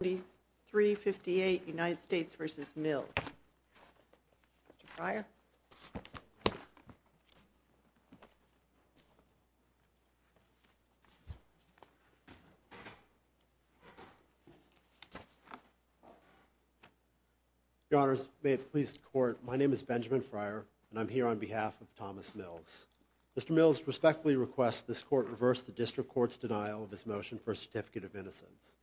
2358 United States v. Mills. Mr. Fryer. Your Honors, may it please the Court, my name is Benjamin Fryer, and I'm here on behalf of Thomas Mills. Mr. Mills respectfully requests this Court reverse the District Court's denial of his motion for a certificate of innocence.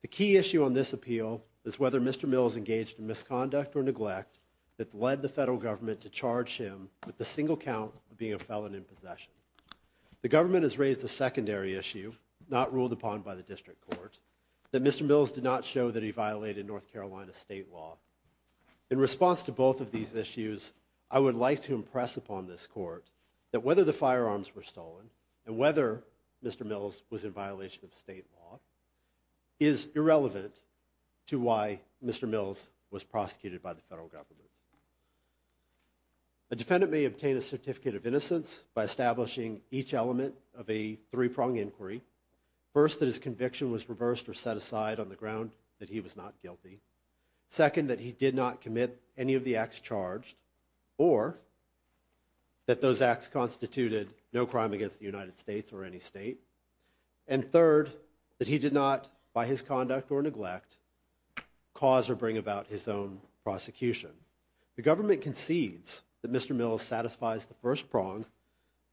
The key issue on this appeal is whether Mr. Mills engaged in misconduct or neglect that led the federal government to charge him with the single count of being a felon in possession. The government has raised a secondary issue, not ruled upon by the District Court, that Mr. Mills did not show that he violated North Carolina state law. In response to both of these issues, I would like to impress upon this Court that whether the firearms were stolen, and whether Mr. Mills was in violation of state law, is irrelevant to why Mr. Mills was prosecuted by the federal government. A defendant may obtain a certificate of innocence by establishing each element of a three-pronged inquiry. First, that his conviction was reversed or set aside on the ground that he was not guilty. Second, that he did not commit any of the acts charged, or that those acts constituted no crime against the United States or any state. And third, that he did not, by his conduct or neglect, cause or bring about his own prosecution. The government concedes that Mr. Mills satisfies the first prong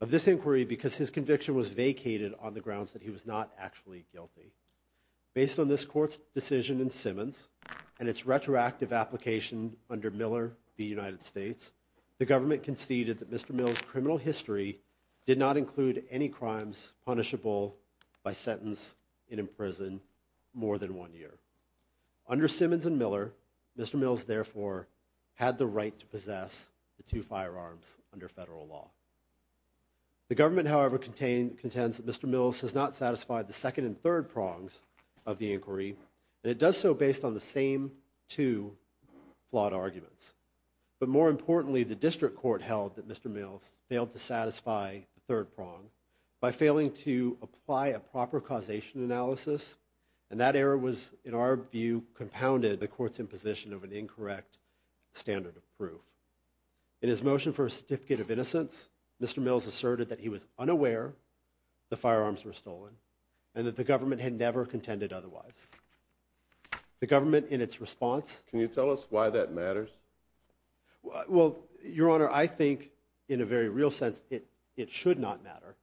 of this inquiry because his conviction was vacated on the grounds that he was not actually guilty. Based on this Court's decision in Simmons, and its retroactive application under Miller v. United States, the government conceded that Mr. Mills' criminal history did not include any crimes punishable by sentence in imprisonment more than one year. Under Simmons and Miller, Mr. Mills, therefore, had the right to possess the two firearms under federal law. The government, however, contends that Mr. Mills has not satisfied the second and third prongs of the inquiry, and it does so based on the same two flawed arguments. But more importantly, the District Court held that Mr. Mills failed to satisfy the third prong by failing to apply a proper causation analysis, and that error was, in our view, compounded the Court's imposition of an incorrect standard of proof. In his motion for a certificate of innocence, Mr. Mills asserted that he was unaware the firearms were stolen, and that the government had never contended otherwise. The government, in its response... Can you tell us why that matters? Well, Your Honor, I think, in a very real sense, it should not matter.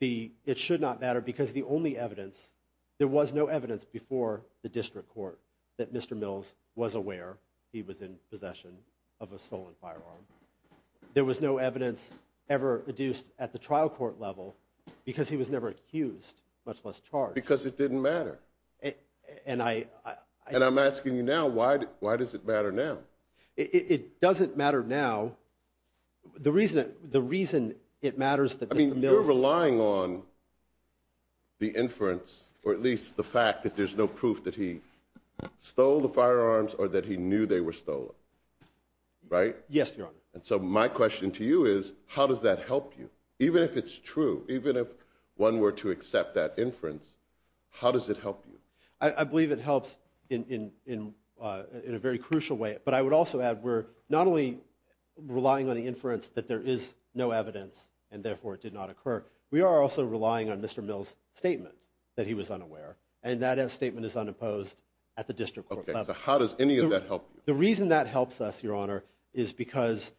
It should not matter because the only evidence, there was no evidence before the District Court that Mr. Mills was aware he was in possession of a stolen firearm. There was no evidence ever adduced at the trial court level because he was never accused, much less charged. Because it didn't matter. And I... And I'm asking you now, why does it matter now? It doesn't matter now. The reason it matters that Mr. Mills... There's no proof that he stole the firearms or that he knew they were stolen. Right? Yes, Your Honor. And so my question to you is, how does that help you? Even if it's true, even if one were to accept that inference, how does it help you? I believe it helps in a very crucial way. But I would also add we're not only relying on the inference that there is no evidence and therefore it did not occur, we are also relying on Mr. Mills' statement that he was unaware. And that statement is unimposed at the District Court level. Okay, so how does any of that help you? The reason that helps us, Your Honor, is because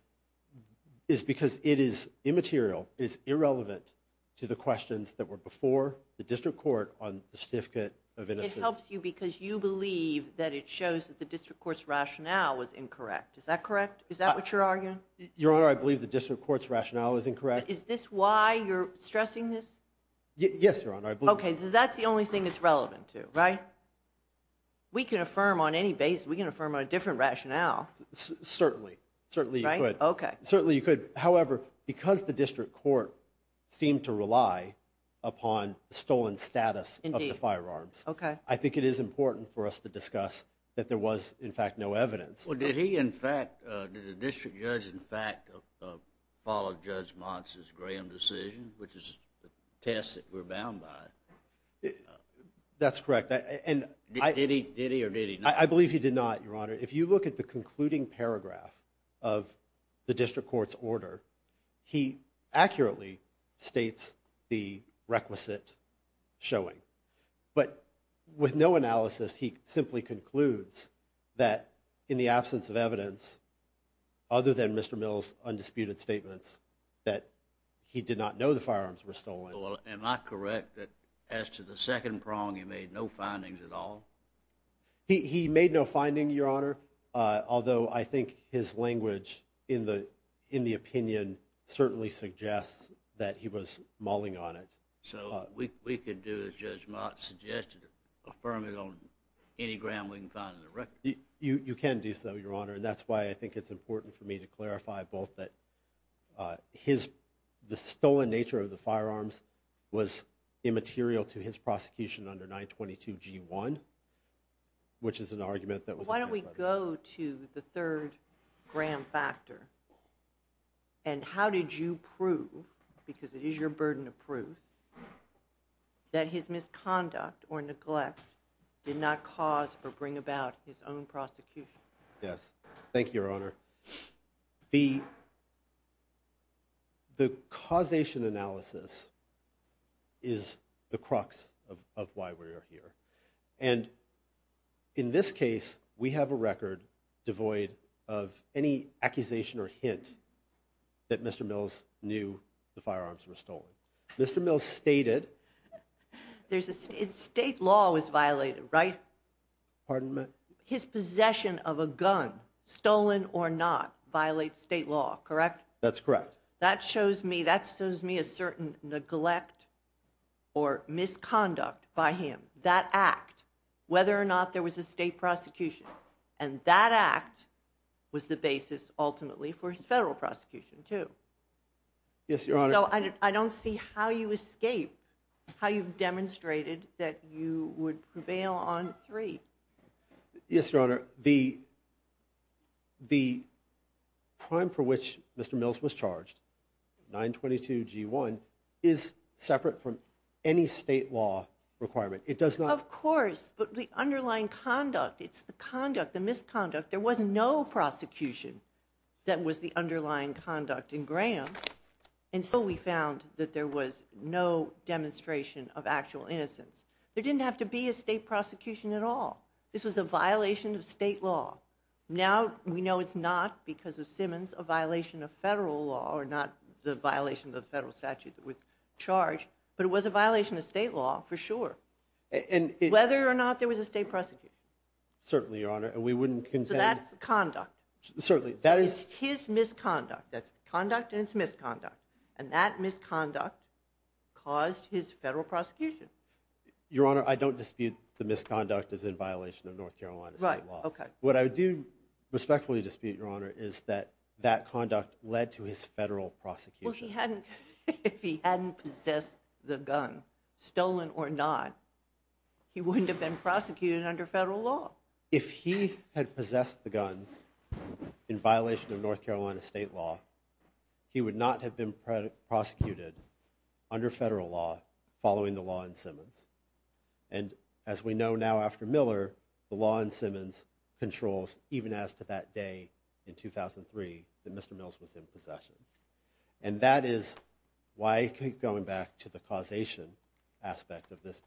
it is immaterial. It is irrelevant to the questions that were before the District Court on the certificate of innocence. It helps you because you believe that it shows that the District Court's rationale was incorrect. Is that correct? Is that what you're arguing? Your Honor, I believe the District Court's rationale is incorrect. Yes, Your Honor. I believe it. Okay, so that's the only thing it's relevant to, right? We can affirm on any basis. We can affirm on a different rationale. Certainly. Certainly you could. Certainly you could. However, because the District Court seemed to rely upon the stolen status of the firearms, I think it is important for us to discuss that there was, in fact, no evidence. Well, did he, in fact, did the District Judge, in fact, follow Judge Mons' Graham decision, which is the test that we're bound by? That's correct. Did he or did he not? I believe he did not, Your Honor. If you look at the concluding paragraph of the District Court's order, he accurately states the requisite showing. But with no analysis, he simply concludes that in the absence of evidence, other than Mr. Mills' undisputed statements, that he did not know the firearms were stolen. Well, am I correct that as to the second prong, he made no findings at all? He made no finding, Your Honor, although I think his language in the opinion certainly suggests that he was mauling on it. So we could do, as Judge Mons suggested, affirm it on any gram we can find in the record. You can do so, Your Honor, and that's why I think it's important for me to clarify both that the stolen nature of the firearms was immaterial to his prosecution under 922G1, which is an argument that was— Why don't we go to the third gram factor? And how did you prove, because it is your burden to prove, that his misconduct or neglect did not cause or bring about his own prosecution? Yes. Thank you, Your Honor. The causation analysis is the crux of why we are here. And in this case, we have a record devoid of any accusation or hint that Mr. Mills knew the firearms were stolen. Mr. Mills stated— State law was violated, right? Pardon me? His possession of a gun, stolen or not, violates state law, correct? That's correct. That shows me a certain neglect or misconduct by him. That act, whether or not there was a state prosecution. And that act was the basis, ultimately, for his federal prosecution, too. Yes, Your Honor. So I don't see how you escape, how you've demonstrated that you would prevail on three. Yes, Your Honor. The crime for which Mr. Mills was charged, 922 G1, is separate from any state law requirement. It does not— Of course. But the underlying conduct, it's the conduct, the misconduct. There was no prosecution that was the underlying conduct in Graham. And so we found that there was no demonstration of actual innocence. There didn't have to be a state prosecution at all. This was a violation of state law. Now, we know it's not, because of Simmons, a violation of federal law, or not the violation of the federal statute that was charged. But it was a violation of state law, for sure. Whether or not there was a state prosecution. Certainly, Your Honor. And we wouldn't contend— So that's conduct. Certainly. That is— It's his misconduct. That's conduct and it's misconduct. And that misconduct caused his federal prosecution. Your Honor, I don't dispute the misconduct as in violation of North Carolina state law. Right, okay. What I do respectfully dispute, Your Honor, is that that conduct led to his federal prosecution. Well, he hadn't— If he hadn't possessed the gun, stolen or not, he wouldn't have been prosecuted under federal law. If he had possessed the guns in violation of North Carolina state law, he would not have been prosecuted under federal law following the law in Simmons. And as we know now after Miller, the law in Simmons controls, even as to that day in 2003, that Mr. Mills was in possession. And that is why I keep going back to the causation aspect of this,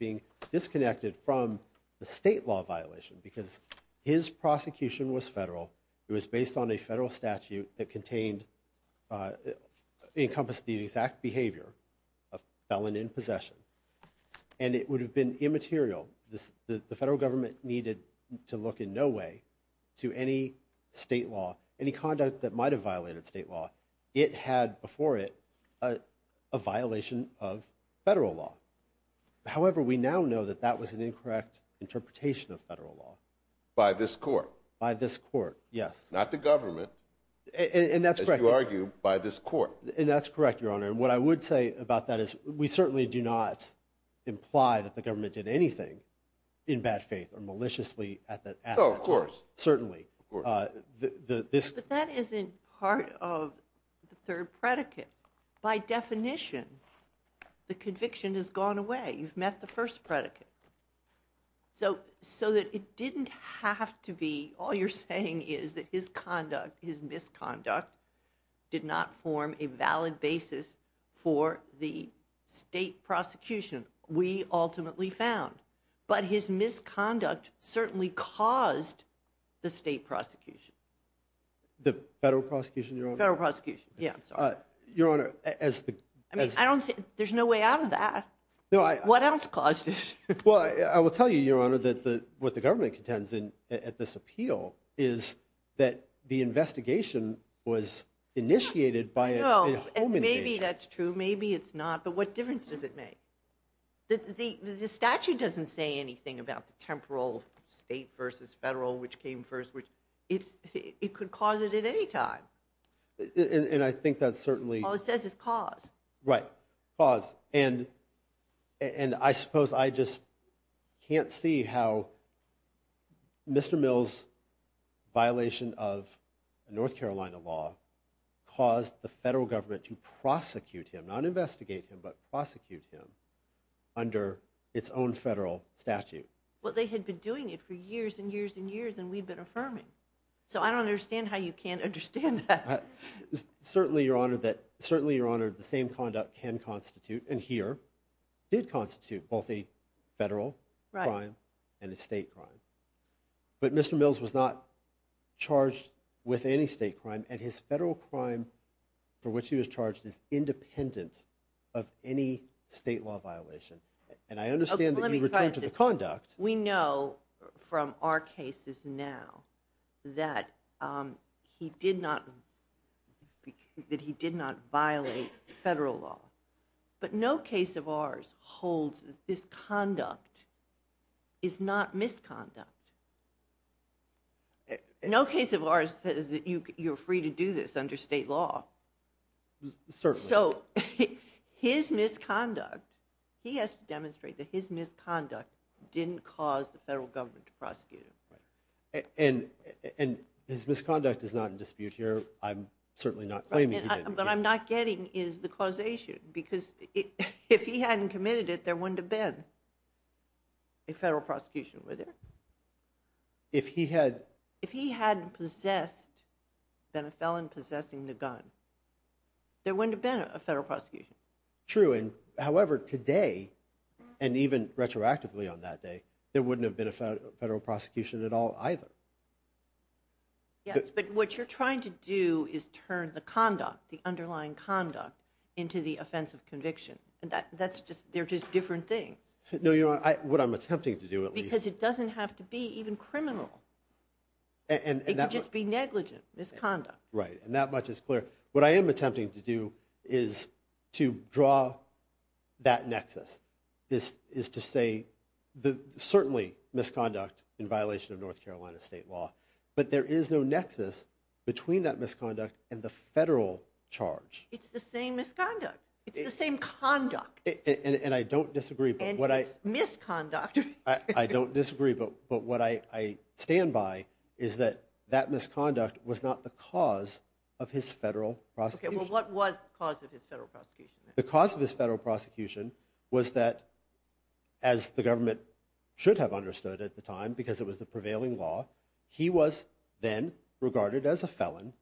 from the state law violation because his prosecution was federal. It was based on a federal statute that contained—encompassed the exact behavior of a felon in possession. And it would have been immaterial. The federal government needed to look in no way to any state law, any conduct that might have violated state law. It had before it a violation of federal law. However, we now know that that was an incorrect interpretation of federal law. By this court. By this court, yes. Not the government. And that's correct. As you argue, by this court. And that's correct, Your Honor. And what I would say about that is we certainly do not imply that the government did anything in bad faith or maliciously at that time. Oh, of course. Certainly. Of course. But that isn't part of the third predicate. By definition, the conviction has gone away. You've met the first predicate. So that it didn't have to be all you're saying is that his conduct, his misconduct, did not form a valid basis for the state prosecution. We ultimately found. But his misconduct certainly caused the state prosecution. The federal prosecution, Your Honor? Federal prosecution. Yeah, sorry. Your Honor, as the. I mean, I don't see. There's no way out of that. No, I. What else caused it? Well, I will tell you, Your Honor, that what the government contends at this appeal is that the investigation was initiated by a. No, and maybe that's true. Maybe it's not. But what difference does it make? The statute doesn't say anything about the temporal state versus federal, which came first. It could cause it at any time. And I think that's certainly. All it says is cause. Right. Cause. And I suppose I just can't see how Mr. Mills' violation of North Carolina law caused the federal government to prosecute him, not investigate him, but prosecute him under its own federal statute. Well, they had been doing it for years and years and years, and we've been affirming. So I don't understand how you can't understand that. Certainly, Your Honor, that certainly, Your Honor, the same conduct can constitute and here did constitute both a federal crime and a state crime. But Mr. Mills was not charged with any state crime and his federal crime for which he was charged is independent of any state law violation. And I understand that you return to the conduct. We know from our cases now that he did not violate federal law. But no case of ours holds that this conduct is not misconduct. No case of ours says that you're free to do this under state law. Certainly. So his misconduct, he has to demonstrate that his misconduct didn't cause the federal government to prosecute him. And his misconduct is not in dispute here. I'm certainly not claiming he didn't. What I'm not getting is the causation because if he hadn't committed it, there wouldn't have been a federal prosecution with it. If he had. If he hadn't possessed, been a felon possessing the gun, there wouldn't have been a federal prosecution. True. And however, today and even retroactively on that day, there wouldn't have been a federal prosecution at all either. Yes, but what you're trying to do is turn the conduct, the underlying conduct, into the offense of conviction. And that's just, they're just different things. No, Your Honor, what I'm attempting to do at least. Because it doesn't have to be even criminal. It could just be negligent misconduct. Right. And that much is clear. What I am attempting to do is to draw that nexus. Is to say, certainly, misconduct in violation of North Carolina state law. But there is no nexus between that misconduct and the federal charge. It's the same misconduct. It's the same conduct. And I don't disagree. And misconduct. I don't disagree, but what I stand by is that that misconduct was not the cause of his federal prosecution. Okay, well what was the cause of his federal prosecution? The cause of his federal prosecution was that, as the government should have understood at the time, because it was the prevailing law, he was then regarded as a felon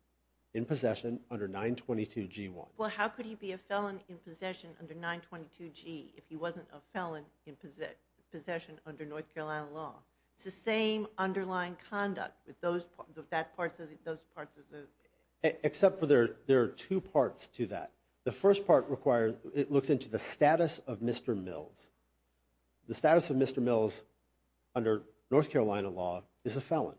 in possession under 922G1. Well, how could he be a felon in possession under 922G if he wasn't a felon in possession under North Carolina law? It's the same underlying conduct with those parts of the... Except for there are two parts to that. The first part requires, it looks into the status of Mr. Mills. The status of Mr. Mills under North Carolina law is a felon.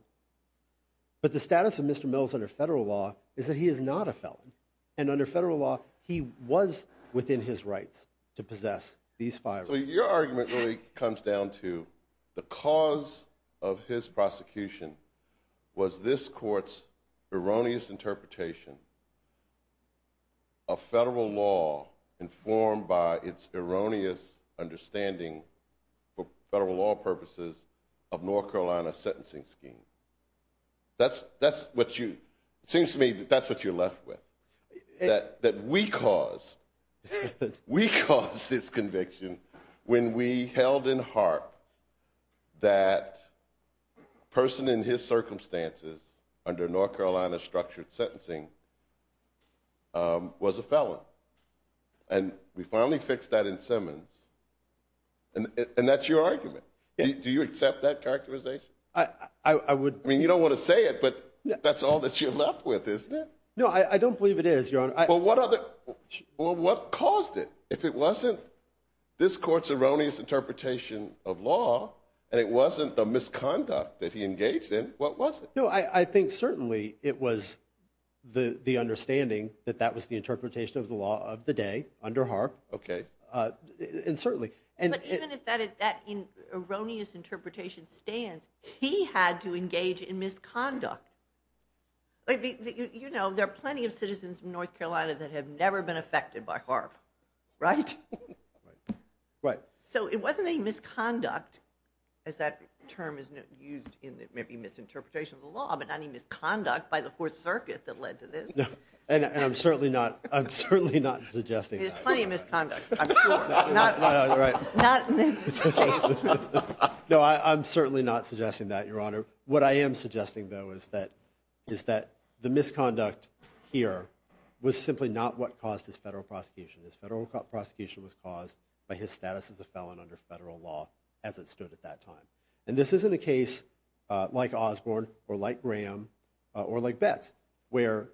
But the status of Mr. Mills under federal law is that he is not a felon. And under federal law, he was within his rights to possess these firearms. So your argument really comes down to the cause of his prosecution was this court's erroneous interpretation of federal law informed by its erroneous understanding for federal law purposes of North Carolina sentencing schemes. That's what you... It seems to me that that's what you're left with. That we caused this conviction when we held in heart that a person in his circumstances under North Carolina structured sentencing was a felon. And we finally fixed that in Simmons. And that's your argument. Do you accept that characterization? I would... I mean, you don't want to say it, but that's all that you're left with, isn't it? No, I don't believe it is, Your Honor. Well, what caused it? If it wasn't this court's erroneous interpretation of law and it wasn't the misconduct that he engaged in, what was it? No, I think certainly it was the understanding that that was the interpretation of the law of the day under Harp. Okay. And certainly... But even if that erroneous interpretation stands, he had to engage in misconduct. You know, there are plenty of citizens in North Carolina that have never been affected by Harp, right? Right. So it wasn't any misconduct, as that term is used in maybe misinterpretation of the law, but not any misconduct by the Fourth Circuit that led to this. And I'm certainly not suggesting that. There's plenty of misconduct. Not in this case. No, I'm certainly not suggesting that, Your Honor. What I am suggesting, though, is that the misconduct here was simply not what caused his federal prosecution. His federal prosecution was caused by his status as a felon under federal law as it stood at that time. And this isn't a case like Osborne or like Graham or like Betts, where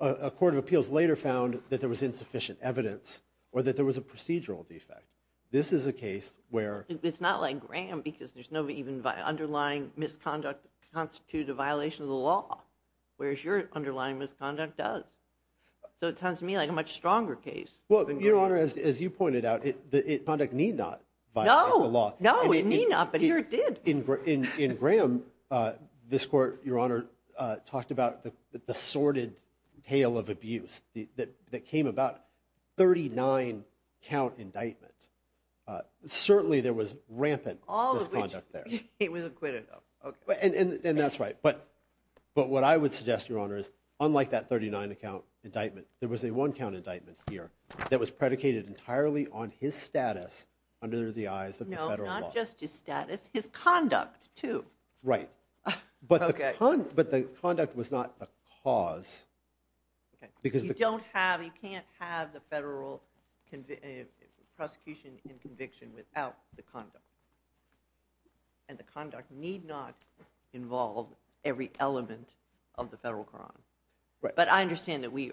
a court of appeals later found that there was insufficient evidence or that there was a procedural defect. This is a case where... It's not like Graham because there's no even underlying misconduct that constitutes a violation of the law, whereas your underlying misconduct does. So it sounds to me like a much stronger case. Well, Your Honor, as you pointed out, conduct need not violate the law. No, it need not, but here it did. In Graham, this court, Your Honor, talked about the sordid tale of abuse that came about 39-count indictment. Certainly there was rampant misconduct there. All of which he was acquitted of. And that's right. But what I would suggest, Your Honor, is unlike that 39-count indictment, there was a one-count indictment here that was predicated entirely on his status under the eyes of the federal law. Not just his status, his conduct, too. Right. But the conduct was not the cause. You can't have the federal prosecution and conviction without the conduct. And the conduct need not involve every element of the federal crime. But I understand that we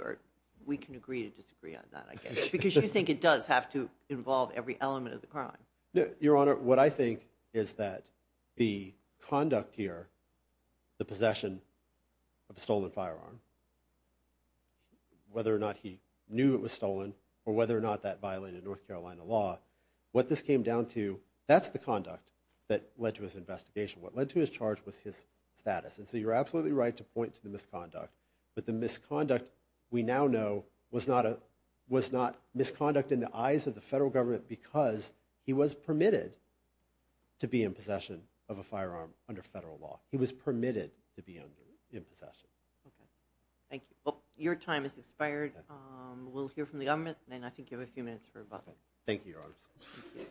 can agree to disagree on that, I guess, because you think it does have to involve every element of the crime. No, Your Honor, what I think is that the conduct here, the possession of a stolen firearm, whether or not he knew it was stolen or whether or not that violated North Carolina law, what this came down to, that's the conduct that led to his investigation. What led to his charge was his status. And so you're absolutely right to point to the misconduct. But the misconduct, we now know, was not misconduct in the eyes of the federal government because he was permitted to be in possession of a firearm under federal law. He was permitted to be in possession. Okay. Thank you. Well, your time has expired. We'll hear from the government, and then I think you have a few minutes for a button. Thank you, Your Honor. Thank you.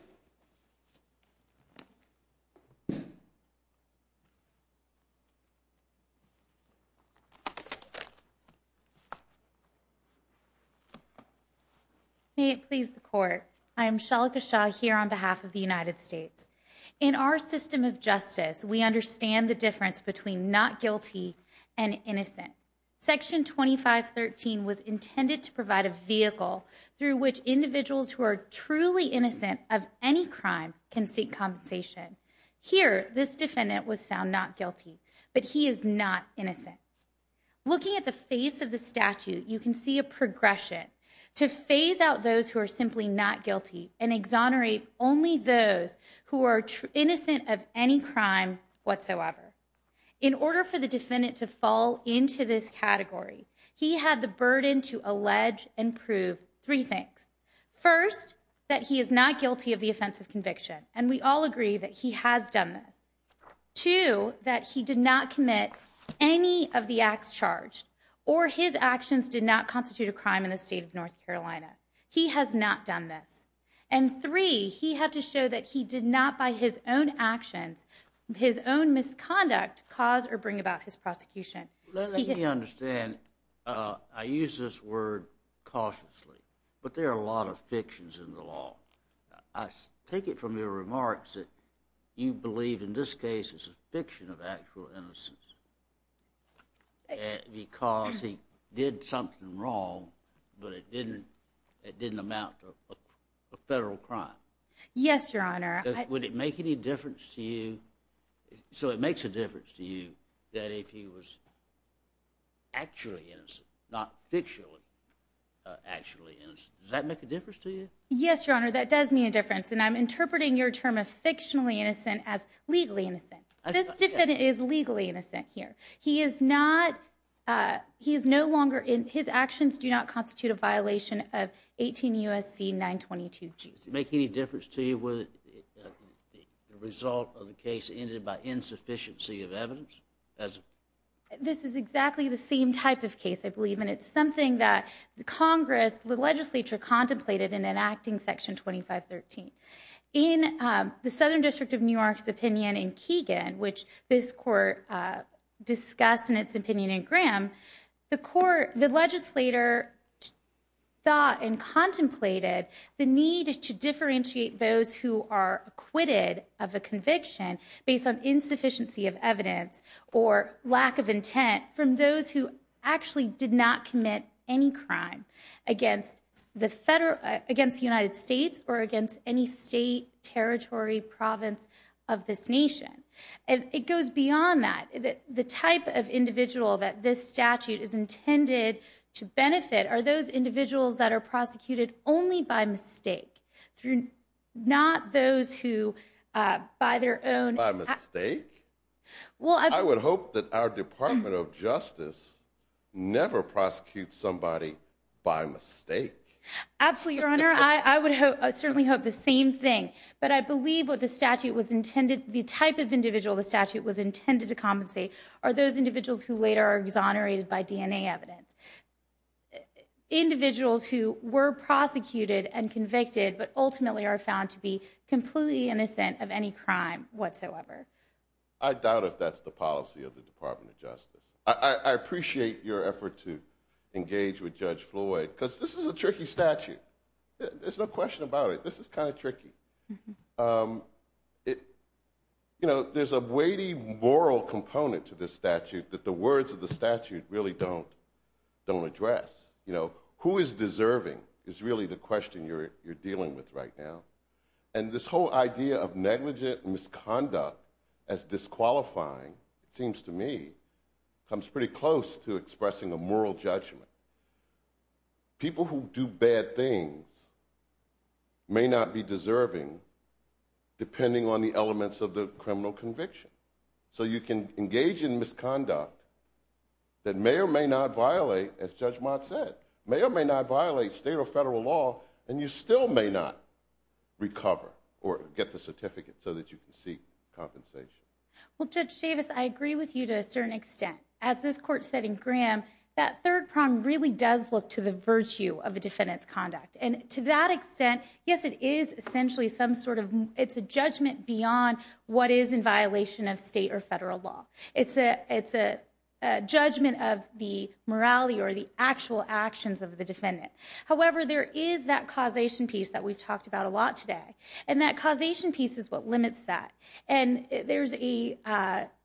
May it please the Court. I am Shalika Shah here on behalf of the United States. In our system of justice, we understand the difference between not guilty and innocent. Section 2513 was intended to provide a vehicle through which individuals who are truly innocent of any crime can seek compensation. Here, this defendant was found not guilty, but he is not innocent. Looking at the face of the statute, you can see a progression. To phase out those who are simply not guilty and exonerate only those who are innocent of any crime whatsoever. In order for the defendant to fall into this category, he had the burden to allege and prove three things. First, that he is not guilty of the offense of conviction. And we all agree that he has done this. Two, that he did not commit any of the acts charged, or his actions did not constitute a crime in the state of North Carolina. He has not done this. And three, he had to show that he did not, by his own actions, his own misconduct, cause or bring about his prosecution. Let me understand. I use this word cautiously, but there are a lot of fictions in the law. I take it from your remarks that you believe, in this case, it's a fiction of actual innocence. Because he did something wrong, but it didn't amount to a federal crime. Yes, Your Honor. Would it make any difference to you, so it makes a difference to you, that if he was actually innocent, not fictionally actually innocent. Does that make a difference to you? Yes, Your Honor, that does make a difference. And I'm interpreting your term of fictionally innocent as legally innocent. This defendant is legally innocent here. He is no longer, his actions do not constitute a violation of 18 U.S.C. 922. Does it make any difference to you whether the result of the case ended by insufficiency of evidence? This is exactly the same type of case, I believe. And it's something that Congress, the legislature, contemplated in enacting Section 2513. In the Southern District of New York's opinion in Keegan, which this court discussed in its opinion in Graham, the court, the legislator thought and contemplated the need to differentiate those who are acquitted of a conviction based on insufficiency of evidence or lack of intent from those who actually did not commit any crime against the United States or against any state, territory, province of this nation. And it goes beyond that. The type of individual that this statute is intended to benefit are those individuals that are prosecuted only by mistake, not those who by their own... By mistake? I would hope that our Department of Justice never prosecutes somebody by mistake. Absolutely, Your Honor. I would certainly hope the same thing. But I believe what the statute was intended... The type of individual the statute was intended to compensate are those individuals who later are exonerated by DNA evidence. Individuals who were prosecuted and convicted but ultimately are found to be completely innocent of any crime whatsoever. I doubt if that's the policy of the Department of Justice. I appreciate your effort to engage with Judge Floyd because this is a tricky statute. There's no question about it. This is kind of tricky. You know, there's a weighty moral component to this statute that the words of the statute really don't address. Who is deserving is really the question you're dealing with right now. And this whole idea of negligent misconduct as disqualifying, it seems to me, comes pretty close to expressing a moral judgment. People who do bad things may not be deserving depending on the elements of the criminal conviction. So you can engage in misconduct that may or may not violate, as Judge Mott said, may or may not violate state or federal law, and you still may not recover or get the certificate so that you can seek compensation. Well, Judge Davis, I agree with you to a certain extent. As this Court said in Graham, that third prong really does look to the virtue of a defendant's conduct. And to that extent, yes, it is essentially some sort of judgment beyond what is in violation of state or federal law. It's a judgment of the morality or the actual actions of the defendant. However, there is that causation piece that we've talked about a lot today. And that causation piece is what limits that. And there's a,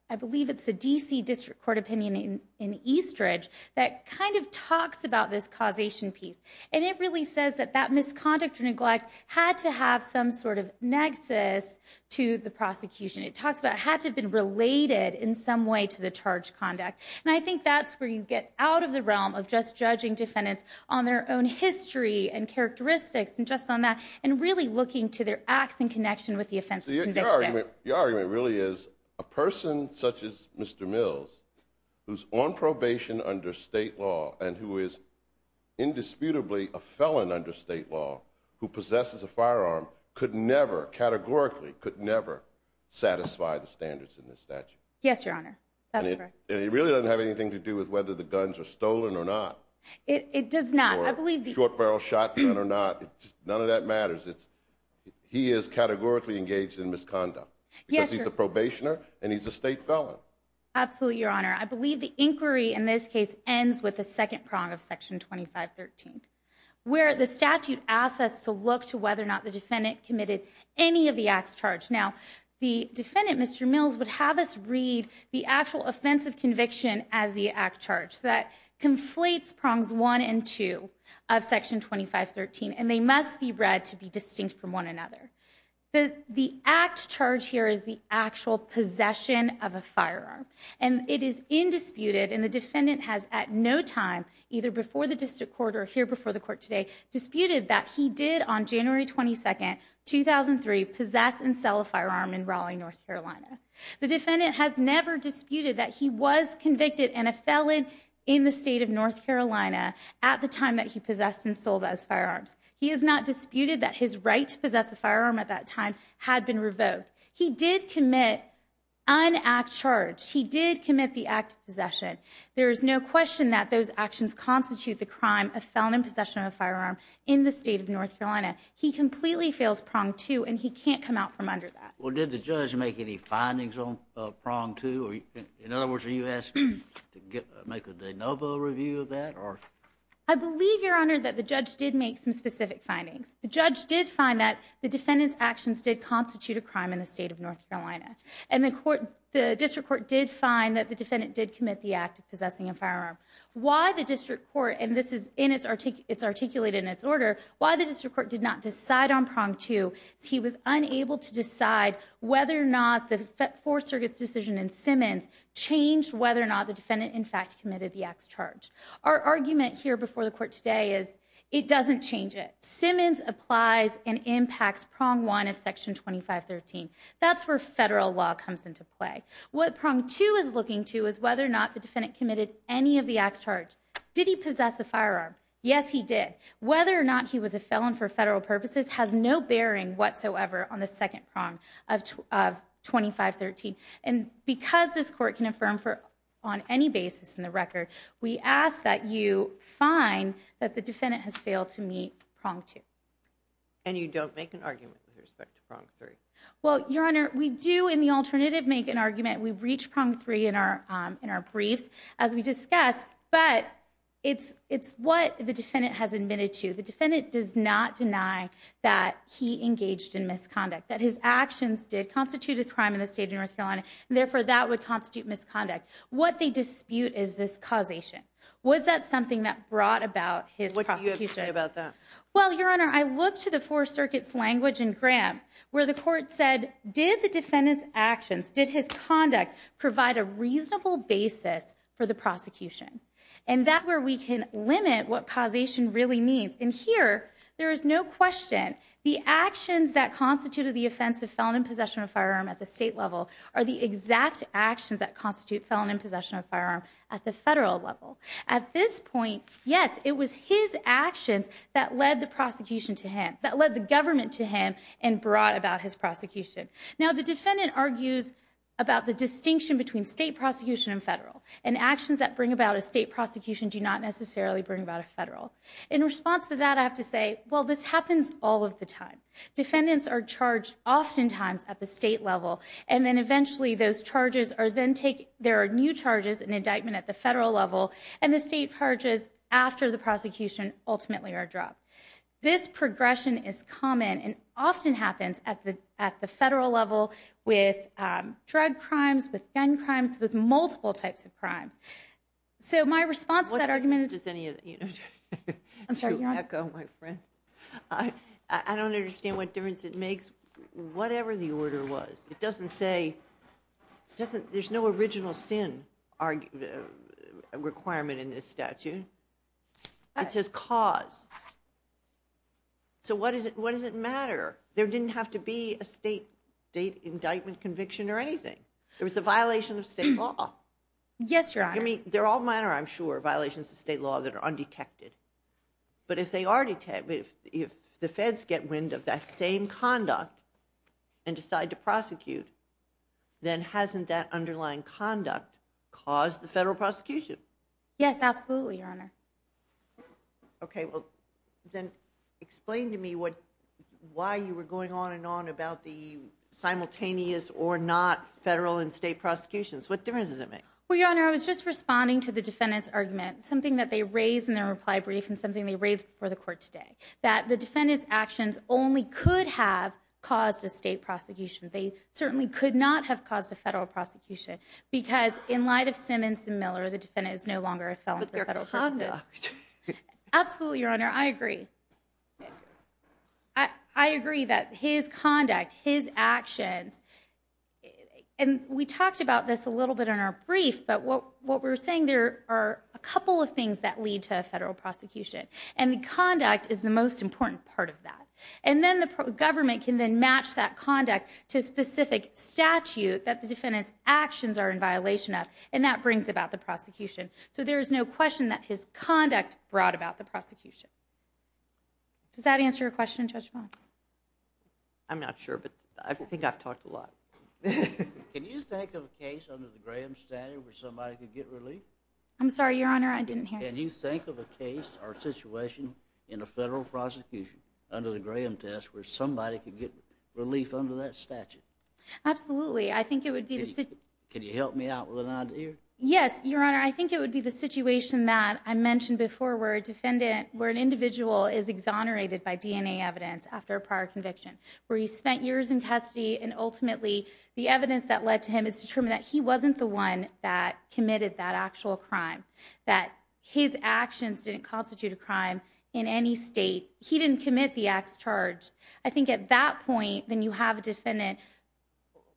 I believe it's a D.C. District Court opinion in Eastridge that kind of talks about this causation piece. And it really says that that misconduct or neglect had to have some sort of nexus to the prosecution. It talks about it had to have been related in some way to the charged conduct. And I think that's where you get out of the realm of just judging defendants on their own history and characteristics and just on that and really looking to their acts in connection with the offense of conviction. Your argument really is a person such as Mr. Mills, who's on probation under state law and who is indisputably a felon under state law who possesses a firearm, could never, categorically, could never satisfy the standards in this statute. Yes, Your Honor. That's correct. And it really doesn't have anything to do with whether the guns are stolen or not. It does not. I believe the... Or short-barrel shotgun or not. None of that matters. He is categorically engaged in misconduct. Yes, Your Honor. Because he's a probationer and he's a state felon. Absolutely, Your Honor. I believe the inquiry in this case ends with the second prong of Section 2513 where the statute asks us to look to whether or not the defendant committed any of the acts charged. Now, the defendant, Mr. Mills, would have us read the actual offense of conviction as the act charged. That conflates prongs 1 and 2 of Section 2513 and they must be read to be distinct from one another. The act charged here is the actual possession of a firearm and it is indisputed and the defendant has, at no time, either before the district court or here before the court today, disputed that he did, on January 22, 2003, possess and sell a firearm in Raleigh, North Carolina. The defendant has never disputed that he was convicted and a felon in the state of North Carolina at the time that he possessed and sold those firearms. He has not disputed that his right to possess a firearm at that time had been revoked. He did commit an act charged. He did commit the act of possession. There is no question that those actions constitute the crime of felon in possession of a firearm in the state of North Carolina. He completely fails prong 2 and he can't come out from under that. Well, did the judge make any findings on prong 2? In other words, are you asking to make a de novo review of that? I believe, Your Honor, that the judge did make some specific findings. The judge did find that the defendant's actions did constitute a crime in the state of North Carolina. And the district court did find that the defendant did commit the act of possessing a firearm. Why the district court, and this is articulated in its order, why the district court did not decide on prong 2 is he was unable to decide whether or not the Fourth Circuit's decision in Simmons changed whether or not the defendant, in fact, committed the act's charge. Our argument here before the court today is it doesn't change it. Simmons applies and impacts prong 1 of Section 2513. That's where federal law comes into play. What prong 2 is looking to is whether or not the defendant committed any of the act's charge. Did he possess a firearm? Yes, he did. Whether or not he was a felon for federal purposes has no bearing whatsoever on the second prong of 2513. And because this court can affirm on any basis in the record, we ask that you find that the defendant has failed to meet prong 2. And you don't make an argument with respect to prong 3? Well, Your Honor, we do in the alternative make an argument. We reach prong 3 in our briefs as we discussed, but it's what the defendant has admitted to. The defendant does not deny that he engaged in misconduct, that his actions did constitute a crime in the state of North Carolina, and therefore that would constitute misconduct. What they dispute is this causation. Was that something that brought about his prosecution? What do you have to say about that? Well, Your Honor, I looked to the Fourth Circuit's language in Graham where the court said, did the defendant's actions, did his conduct, provide a reasonable basis for the prosecution? And that's where we can limit what causation really means. And here, there is no question, the actions that constituted the offense of felon in possession of a firearm at the state level are the exact actions that constitute felon in possession of a firearm at the federal level. At this point, yes, it was his actions that led the prosecution to him, that led the government to him and brought about his prosecution. Now, the defendant argues about the distinction between state prosecution and federal, and actions that bring about a state prosecution do not necessarily bring about a federal. In response to that, I have to say, well, this happens all of the time. Defendants are charged oftentimes at the state level, and then eventually those charges are then taken, there are new charges and indictment at the federal level, and the state charges after the prosecution ultimately are dropped. This progression is common and often happens at the federal level with drug crimes, with gun crimes, with multiple types of crimes. So my response to that argument is... What difference does any of that, you know... I'm sorry, Your Honor. I don't understand what difference it makes, whatever the order was. It doesn't say, there's no original sin requirement in this statute. It says cause. So what does it matter? There didn't have to be a state indictment conviction or anything. It was a violation of state law. Yes, Your Honor. I mean, they're all minor, I'm sure, violations of state law that are undetected. But if the feds get wind of that same conduct and decide to prosecute, then hasn't that underlying conduct caused the federal prosecution? Yes, absolutely, Your Honor. Okay, well, then explain to me why you were going on and on about the simultaneous or not federal and state prosecutions. What difference does it make? Well, Your Honor, I was just responding to the defendant's argument, something that they raised in their reply brief and something they raised before the court today, that the defendant's actions only could have caused a state prosecution. They certainly could not have caused a federal prosecution because in light of Simmons and Miller, the defendant is no longer a felon for federal prosecution. But their conduct. Absolutely, Your Honor. I agree. I agree that his conduct, his actions, and we talked about this a little bit in our brief, but what we were saying, there are a couple of things that lead to a federal prosecution, and the conduct is the most important part of that. And then the government can then match that conduct to a specific statute that the defendant's actions are in violation of, and that brings about the prosecution. So there is no question that his conduct brought about the prosecution. Does that answer your question, Judge Bonds? I'm not sure, but I think I've talked a lot. Can you think of a case under the Graham statute where somebody could get relief? I'm sorry, Your Honor, I didn't hear you. Can you think of a case or situation in a federal prosecution under the Graham test where somebody could get relief under that statute? Absolutely. Can you help me out with an idea? Yes, Your Honor. I think it would be the situation that I mentioned before where an individual is exonerated by DNA evidence after a prior conviction, where he spent years in custody, and ultimately the evidence that led to him is to determine that he wasn't the one that committed that actual crime, that his actions didn't constitute a crime in any state. He didn't commit the acts charged. I think at that point then you have a defendant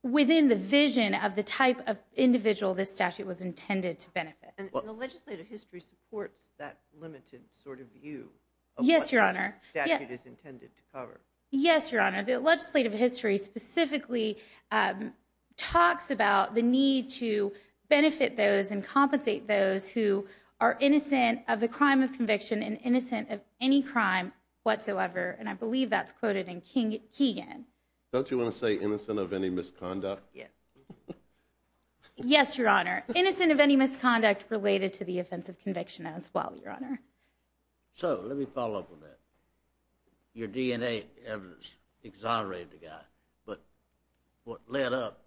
within the vision of the type of individual this statute was intended to benefit. And the legislative history supports that limited sort of view of what this statute is intended to cover? Yes, Your Honor. The legislative history specifically talks about the need to benefit those and compensate those who are innocent of the crime of conviction and innocent of any crime whatsoever, and I believe that's quoted in Keegan. Don't you want to say innocent of any misconduct? Yes, Your Honor. Innocent of any misconduct related to the offense of conviction as well, Your Honor. So let me follow up on that. Your DNA evidence exonerated the guy, but what led up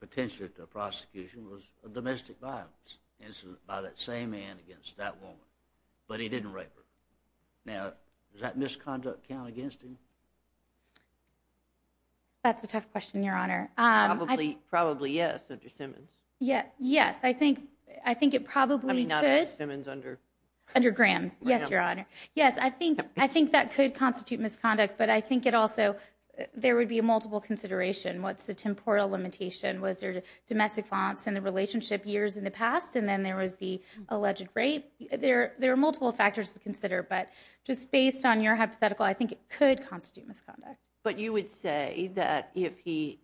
potentially to a prosecution was a domestic violence incident by that same man against that woman, but he didn't rape her. Now, does that misconduct count against him? That's a tough question, Your Honor. Probably yes, Dr. Simmons. Yes, I think it probably could. I mean, not as Simmons under Graham. Under Graham, yes, Your Honor. Yes, I think that could constitute misconduct, but I think it also there would be a multiple consideration. What's the temporal limitation? Was there domestic violence in the relationship years in the past and then there was the alleged rape? I think there are multiple factors to consider, but just based on your hypothetical, I think it could constitute misconduct. But you would say that if he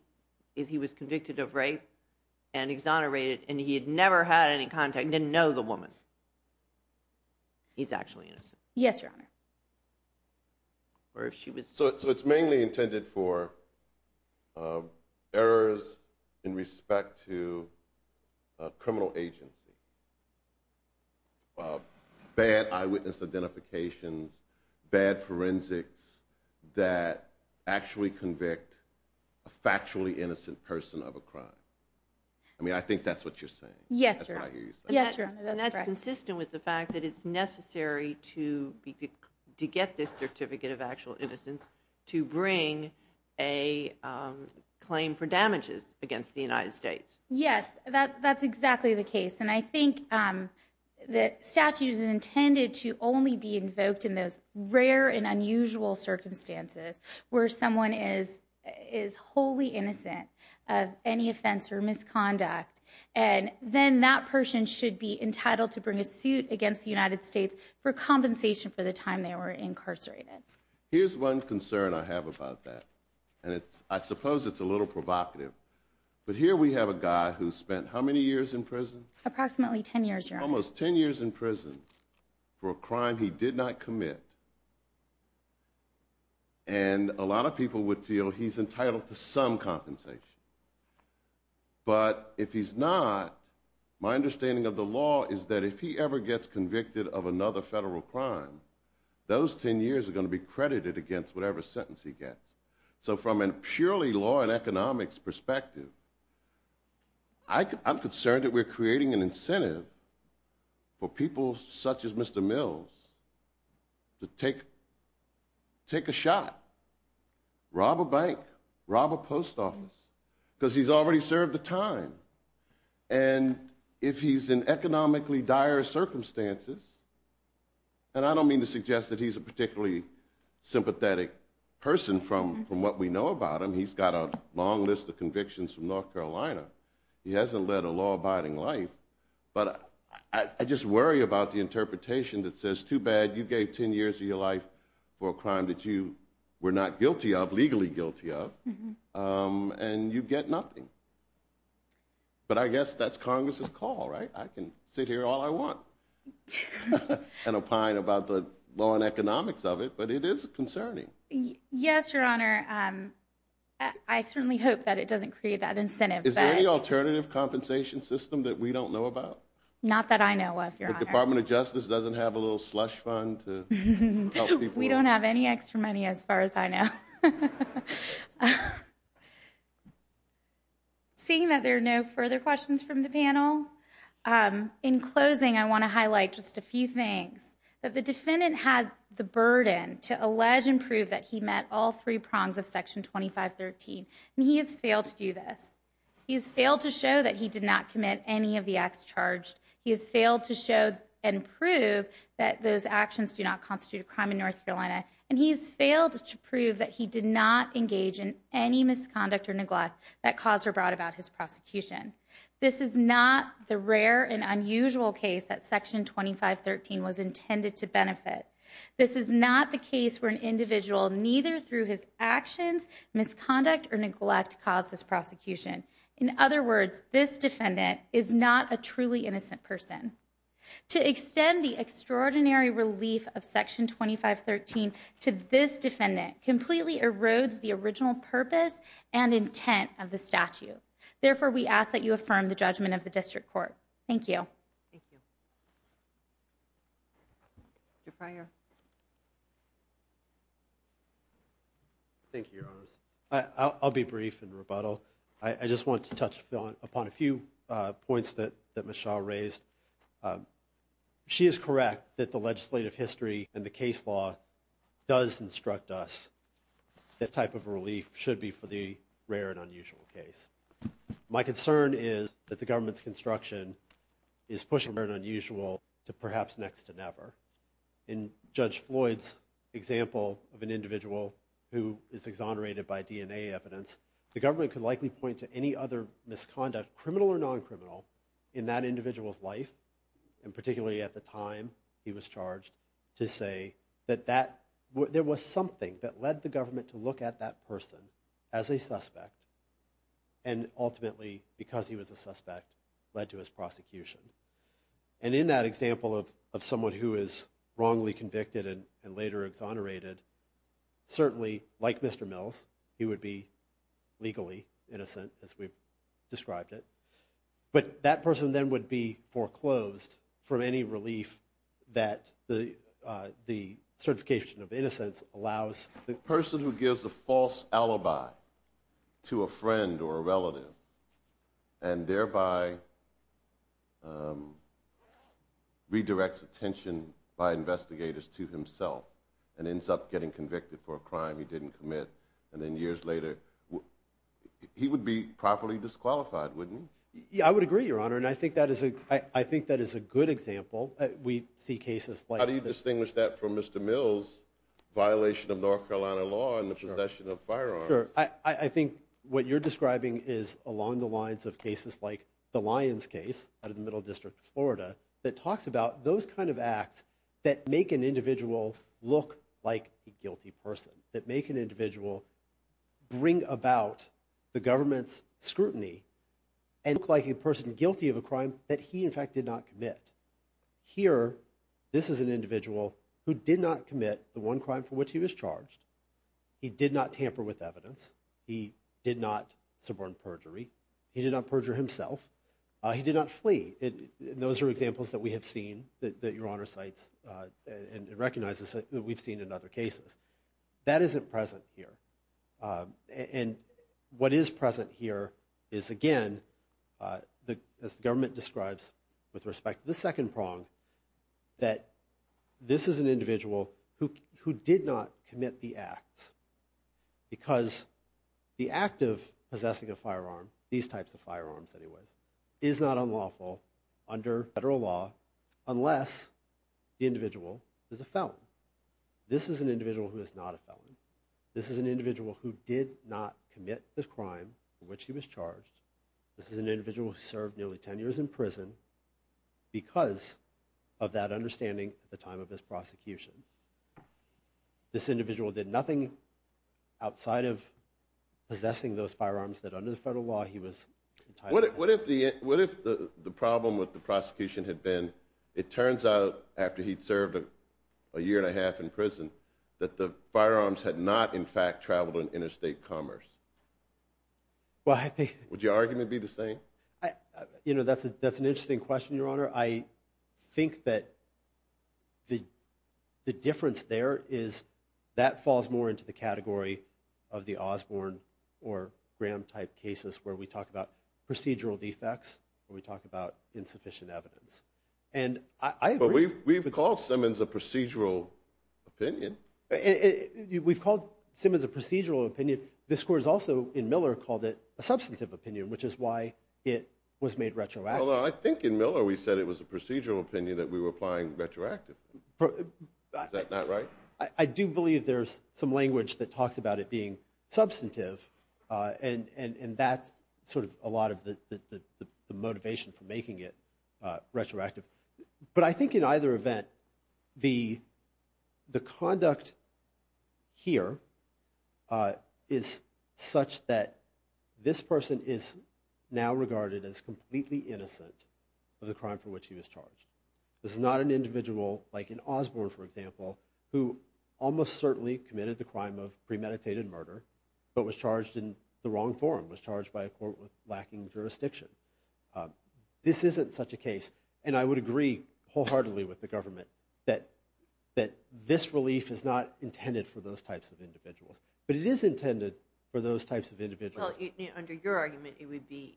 was convicted of rape and exonerated and he had never had any contact, didn't know the woman, he's actually innocent? Yes, Your Honor. So it's mainly intended for errors in respect to criminal agency, bad eyewitness identifications, bad forensics that actually convict a factually innocent person of a crime. I mean, I think that's what you're saying. Yes, Your Honor. And that's consistent with the fact that it's necessary to get this certificate of actual innocence to bring a claim for damages against the United States. Yes, that's exactly the case, and I think that statute is intended to only be invoked in those rare and unusual circumstances where someone is wholly innocent of any offense or misconduct, and then that person should be entitled to bring a suit against the United States for compensation for the time they were incarcerated. Here's one concern I have about that, and I suppose it's a little provocative, but here we have a guy who spent how many years in prison? Approximately 10 years, Your Honor. Almost 10 years in prison for a crime he did not commit, and a lot of people would feel he's entitled to some compensation. But if he's not, my understanding of the law is that if he ever gets convicted of another federal crime, those 10 years are going to be credited against whatever sentence he gets. So from a purely law and economics perspective, I'm concerned that we're creating an incentive for people such as Mr. Mills to take a shot, rob a bank, rob a post office, because he's already served the time. And if he's in economically dire circumstances, and I don't mean to suggest that he's a particularly sympathetic person from what we know about him. He's got a long list of convictions from North Carolina. He hasn't led a law-abiding life. But I just worry about the interpretation that says, too bad you gave 10 years of your life for a crime that you were not legally guilty of, and you get nothing. But I guess that's Congress's call, right? I can sit here all I want and opine about the law and economics of it, but it is concerning. Yes, Your Honor. I certainly hope that it doesn't create that incentive. Is there any alternative compensation system that we don't know about? Not that I know of, Your Honor. The Department of Justice doesn't have a little slush fund to help people? We don't have any extra money as far as I know. Seeing that there are no further questions from the panel, in closing I want to highlight just a few things. The defendant had the burden to allege and prove that he met all three prongs of Section 2513, and he has failed to do this. He has failed to show that he did not commit any of the acts charged. He has failed to show and prove that those actions do not constitute a crime in North Carolina, and he has failed to prove that he did not engage in any misconduct or neglect that caused or brought about his prosecution. This is not the rare and unusual case that Section 2513 was intended to benefit. This is not the case where an individual, neither through his actions, misconduct, or neglect, caused his prosecution. In other words, this defendant is not a truly innocent person. To extend the extraordinary relief of Section 2513 to this defendant completely erodes the original purpose and intent of the statute. Therefore, we ask that you affirm the judgment of the District Court. Thank you. Thank you, Your Honors. I'll be brief in rebuttal. I just want to touch upon a few points that Ms. Shaw raised. She is correct that the legislative history and the case law does instruct us that this type of relief should be for the rare and unusual case. My concern is that the government's construction is pushing rare and unusual to perhaps next to never. In Judge Floyd's example of an individual who is exonerated by DNA evidence, the government could likely point to any other misconduct, criminal or non-criminal, in that individual's life, and particularly at the time he was charged, to say that there was something that led the government to look at that person as a suspect, and ultimately, because he was a suspect, led to his prosecution. And in that example of someone who is wrongly convicted and later exonerated, certainly, like Mr. Mills, he would be legally innocent, as we've described it. But that person then would be foreclosed from any relief that the certification of innocence allows. A person who gives a false alibi to a friend or a relative and thereby redirects attention by investigators to himself and ends up getting convicted for a crime he didn't commit, and then years later, he would be properly disqualified, wouldn't he? Yeah, I would agree, Your Honor, and I think that is a good example. We see cases like... How do you distinguish that from Mr. Mills' violation of North Carolina law and the possession of firearms? I think what you're describing is along the lines of cases like the Lyons case out of the Middle District of Florida that talks about those kind of acts that make an individual look like a guilty person, that make an individual bring about the government's scrutiny and look like a person guilty of a crime that he, in fact, did not commit. Here, this is an individual who did not commit the one crime for which he was charged. He did not tamper with evidence. He did not suborn perjury. He did not perjure himself. He did not flee. Those are examples that we have seen that Your Honor cites and recognizes that we've seen in other cases. That isn't present here. And what is present here is, again, as the government describes with respect to the second prong, that this is an individual who did not commit the act because the act of possessing a firearm, these types of firearms anyways, is not unlawful under federal law unless the individual is a felon. This is an individual who is not a felon. This is an individual who did not commit the crime for which he was charged. This is an individual who served nearly 10 years in prison because of that understanding at the time of his prosecution. This individual did nothing outside of possessing those firearms that under the federal law he was entitled to. What if the problem with the prosecution had been, it turns out after he'd served a year and a half in prison, that the firearms had not, in fact, traveled in interstate commerce? Well, I think... Would your argument be the same? You know, that's an interesting question, Your Honor. I think that the difference there is that falls more into the category of the Osborne or Graham-type cases where we talk about procedural defects or we talk about insufficient evidence. And I agree... But we've called Simmons a procedural opinion. We've called Simmons a procedural opinion. This Court has also, in Miller, called it a substantive opinion, which is why it was made retroactive. Well, no, I think in Miller we said it was a procedural opinion that we were applying retroactively. Is that not right? I do believe there's some language that talks about it being substantive, and that's sort of a lot of the motivation for making it retroactive. But I think in either event, the conduct here is such that this person is now regarded as completely innocent of the crime for which he was charged. This is not an individual like an Osborne, for example, who almost certainly committed the crime of premeditated murder but was charged in the wrong form, was charged by a court with lacking jurisdiction. This isn't such a case, and I would agree wholeheartedly with the government, that this relief is not intended for those types of individuals. But it is intended for those types of individuals. Well, under your argument, it would be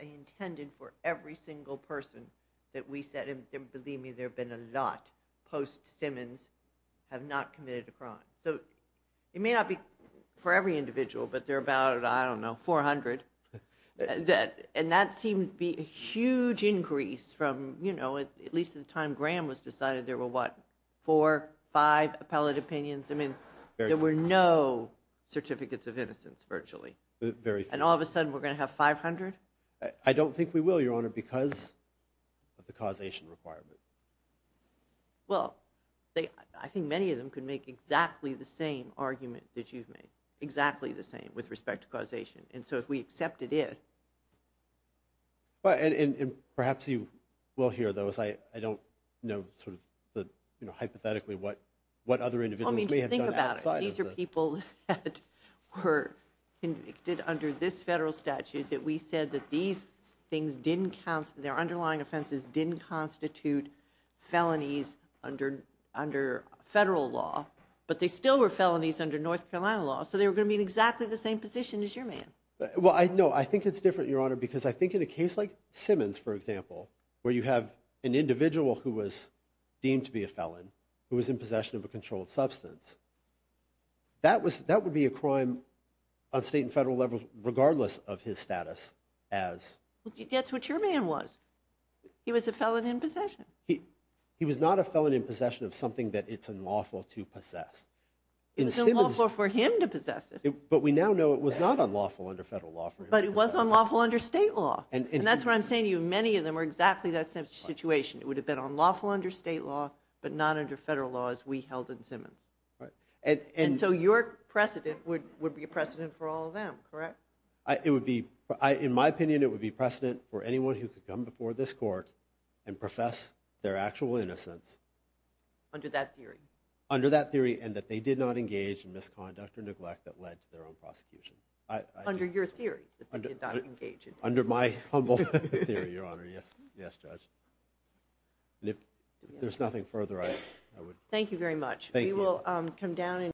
intended for every single person that we said, and believe me, there have been a lot post-Simmons, have not committed a crime. So it may not be for every individual, but there are about, I don't know, 400. And that seemed to be a huge increase from, you know, at least at the time Graham was decided, there were, what, four, five appellate opinions? I mean, there were no certificates of innocence, virtually. And all of a sudden we're going to have 500? I don't think we will, Your Honor, because of the causation requirement. Well, I think many of them could make exactly the same argument that you've made, exactly the same with respect to causation. And so if we accepted it... And perhaps you will hear, though, as I don't know sort of hypothetically what other individuals may have done outside of the... I mean, think about it. These are people that were convicted under this federal statute, that we said that these things didn't... their underlying offenses didn't constitute felonies under federal law, but they still were felonies under North Carolina law, so they were going to be in exactly the same position as your man. Well, no, I think it's different, Your Honor, because I think in a case like Simmons, for example, where you have an individual who was deemed to be a felon, who was in possession of a controlled substance, that would be a crime on state and federal levels regardless of his status as... That's what your man was. He was a felon in possession. He was not a felon in possession of something that it's unlawful to possess. It was unlawful for him to possess it. But we now know it was not unlawful under federal law... But it was unlawful under state law. And that's what I'm saying to you. Many of them were in exactly that same situation. It would have been unlawful under state law, but not under federal law as we held in Simmons. And so your precedent would be a precedent for all of them, correct? It would be... In my opinion, it would be precedent for anyone who could come before this court and profess their actual innocence... Under that theory. Under that theory, and that they did not engage in misconduct or neglect that led to their own prosecution. Under your theory, that they did not engage in... Under my humble theory, Your Honor. Yes, yes, Judge. And if there's nothing further, I would... Thank you very much. Thank you.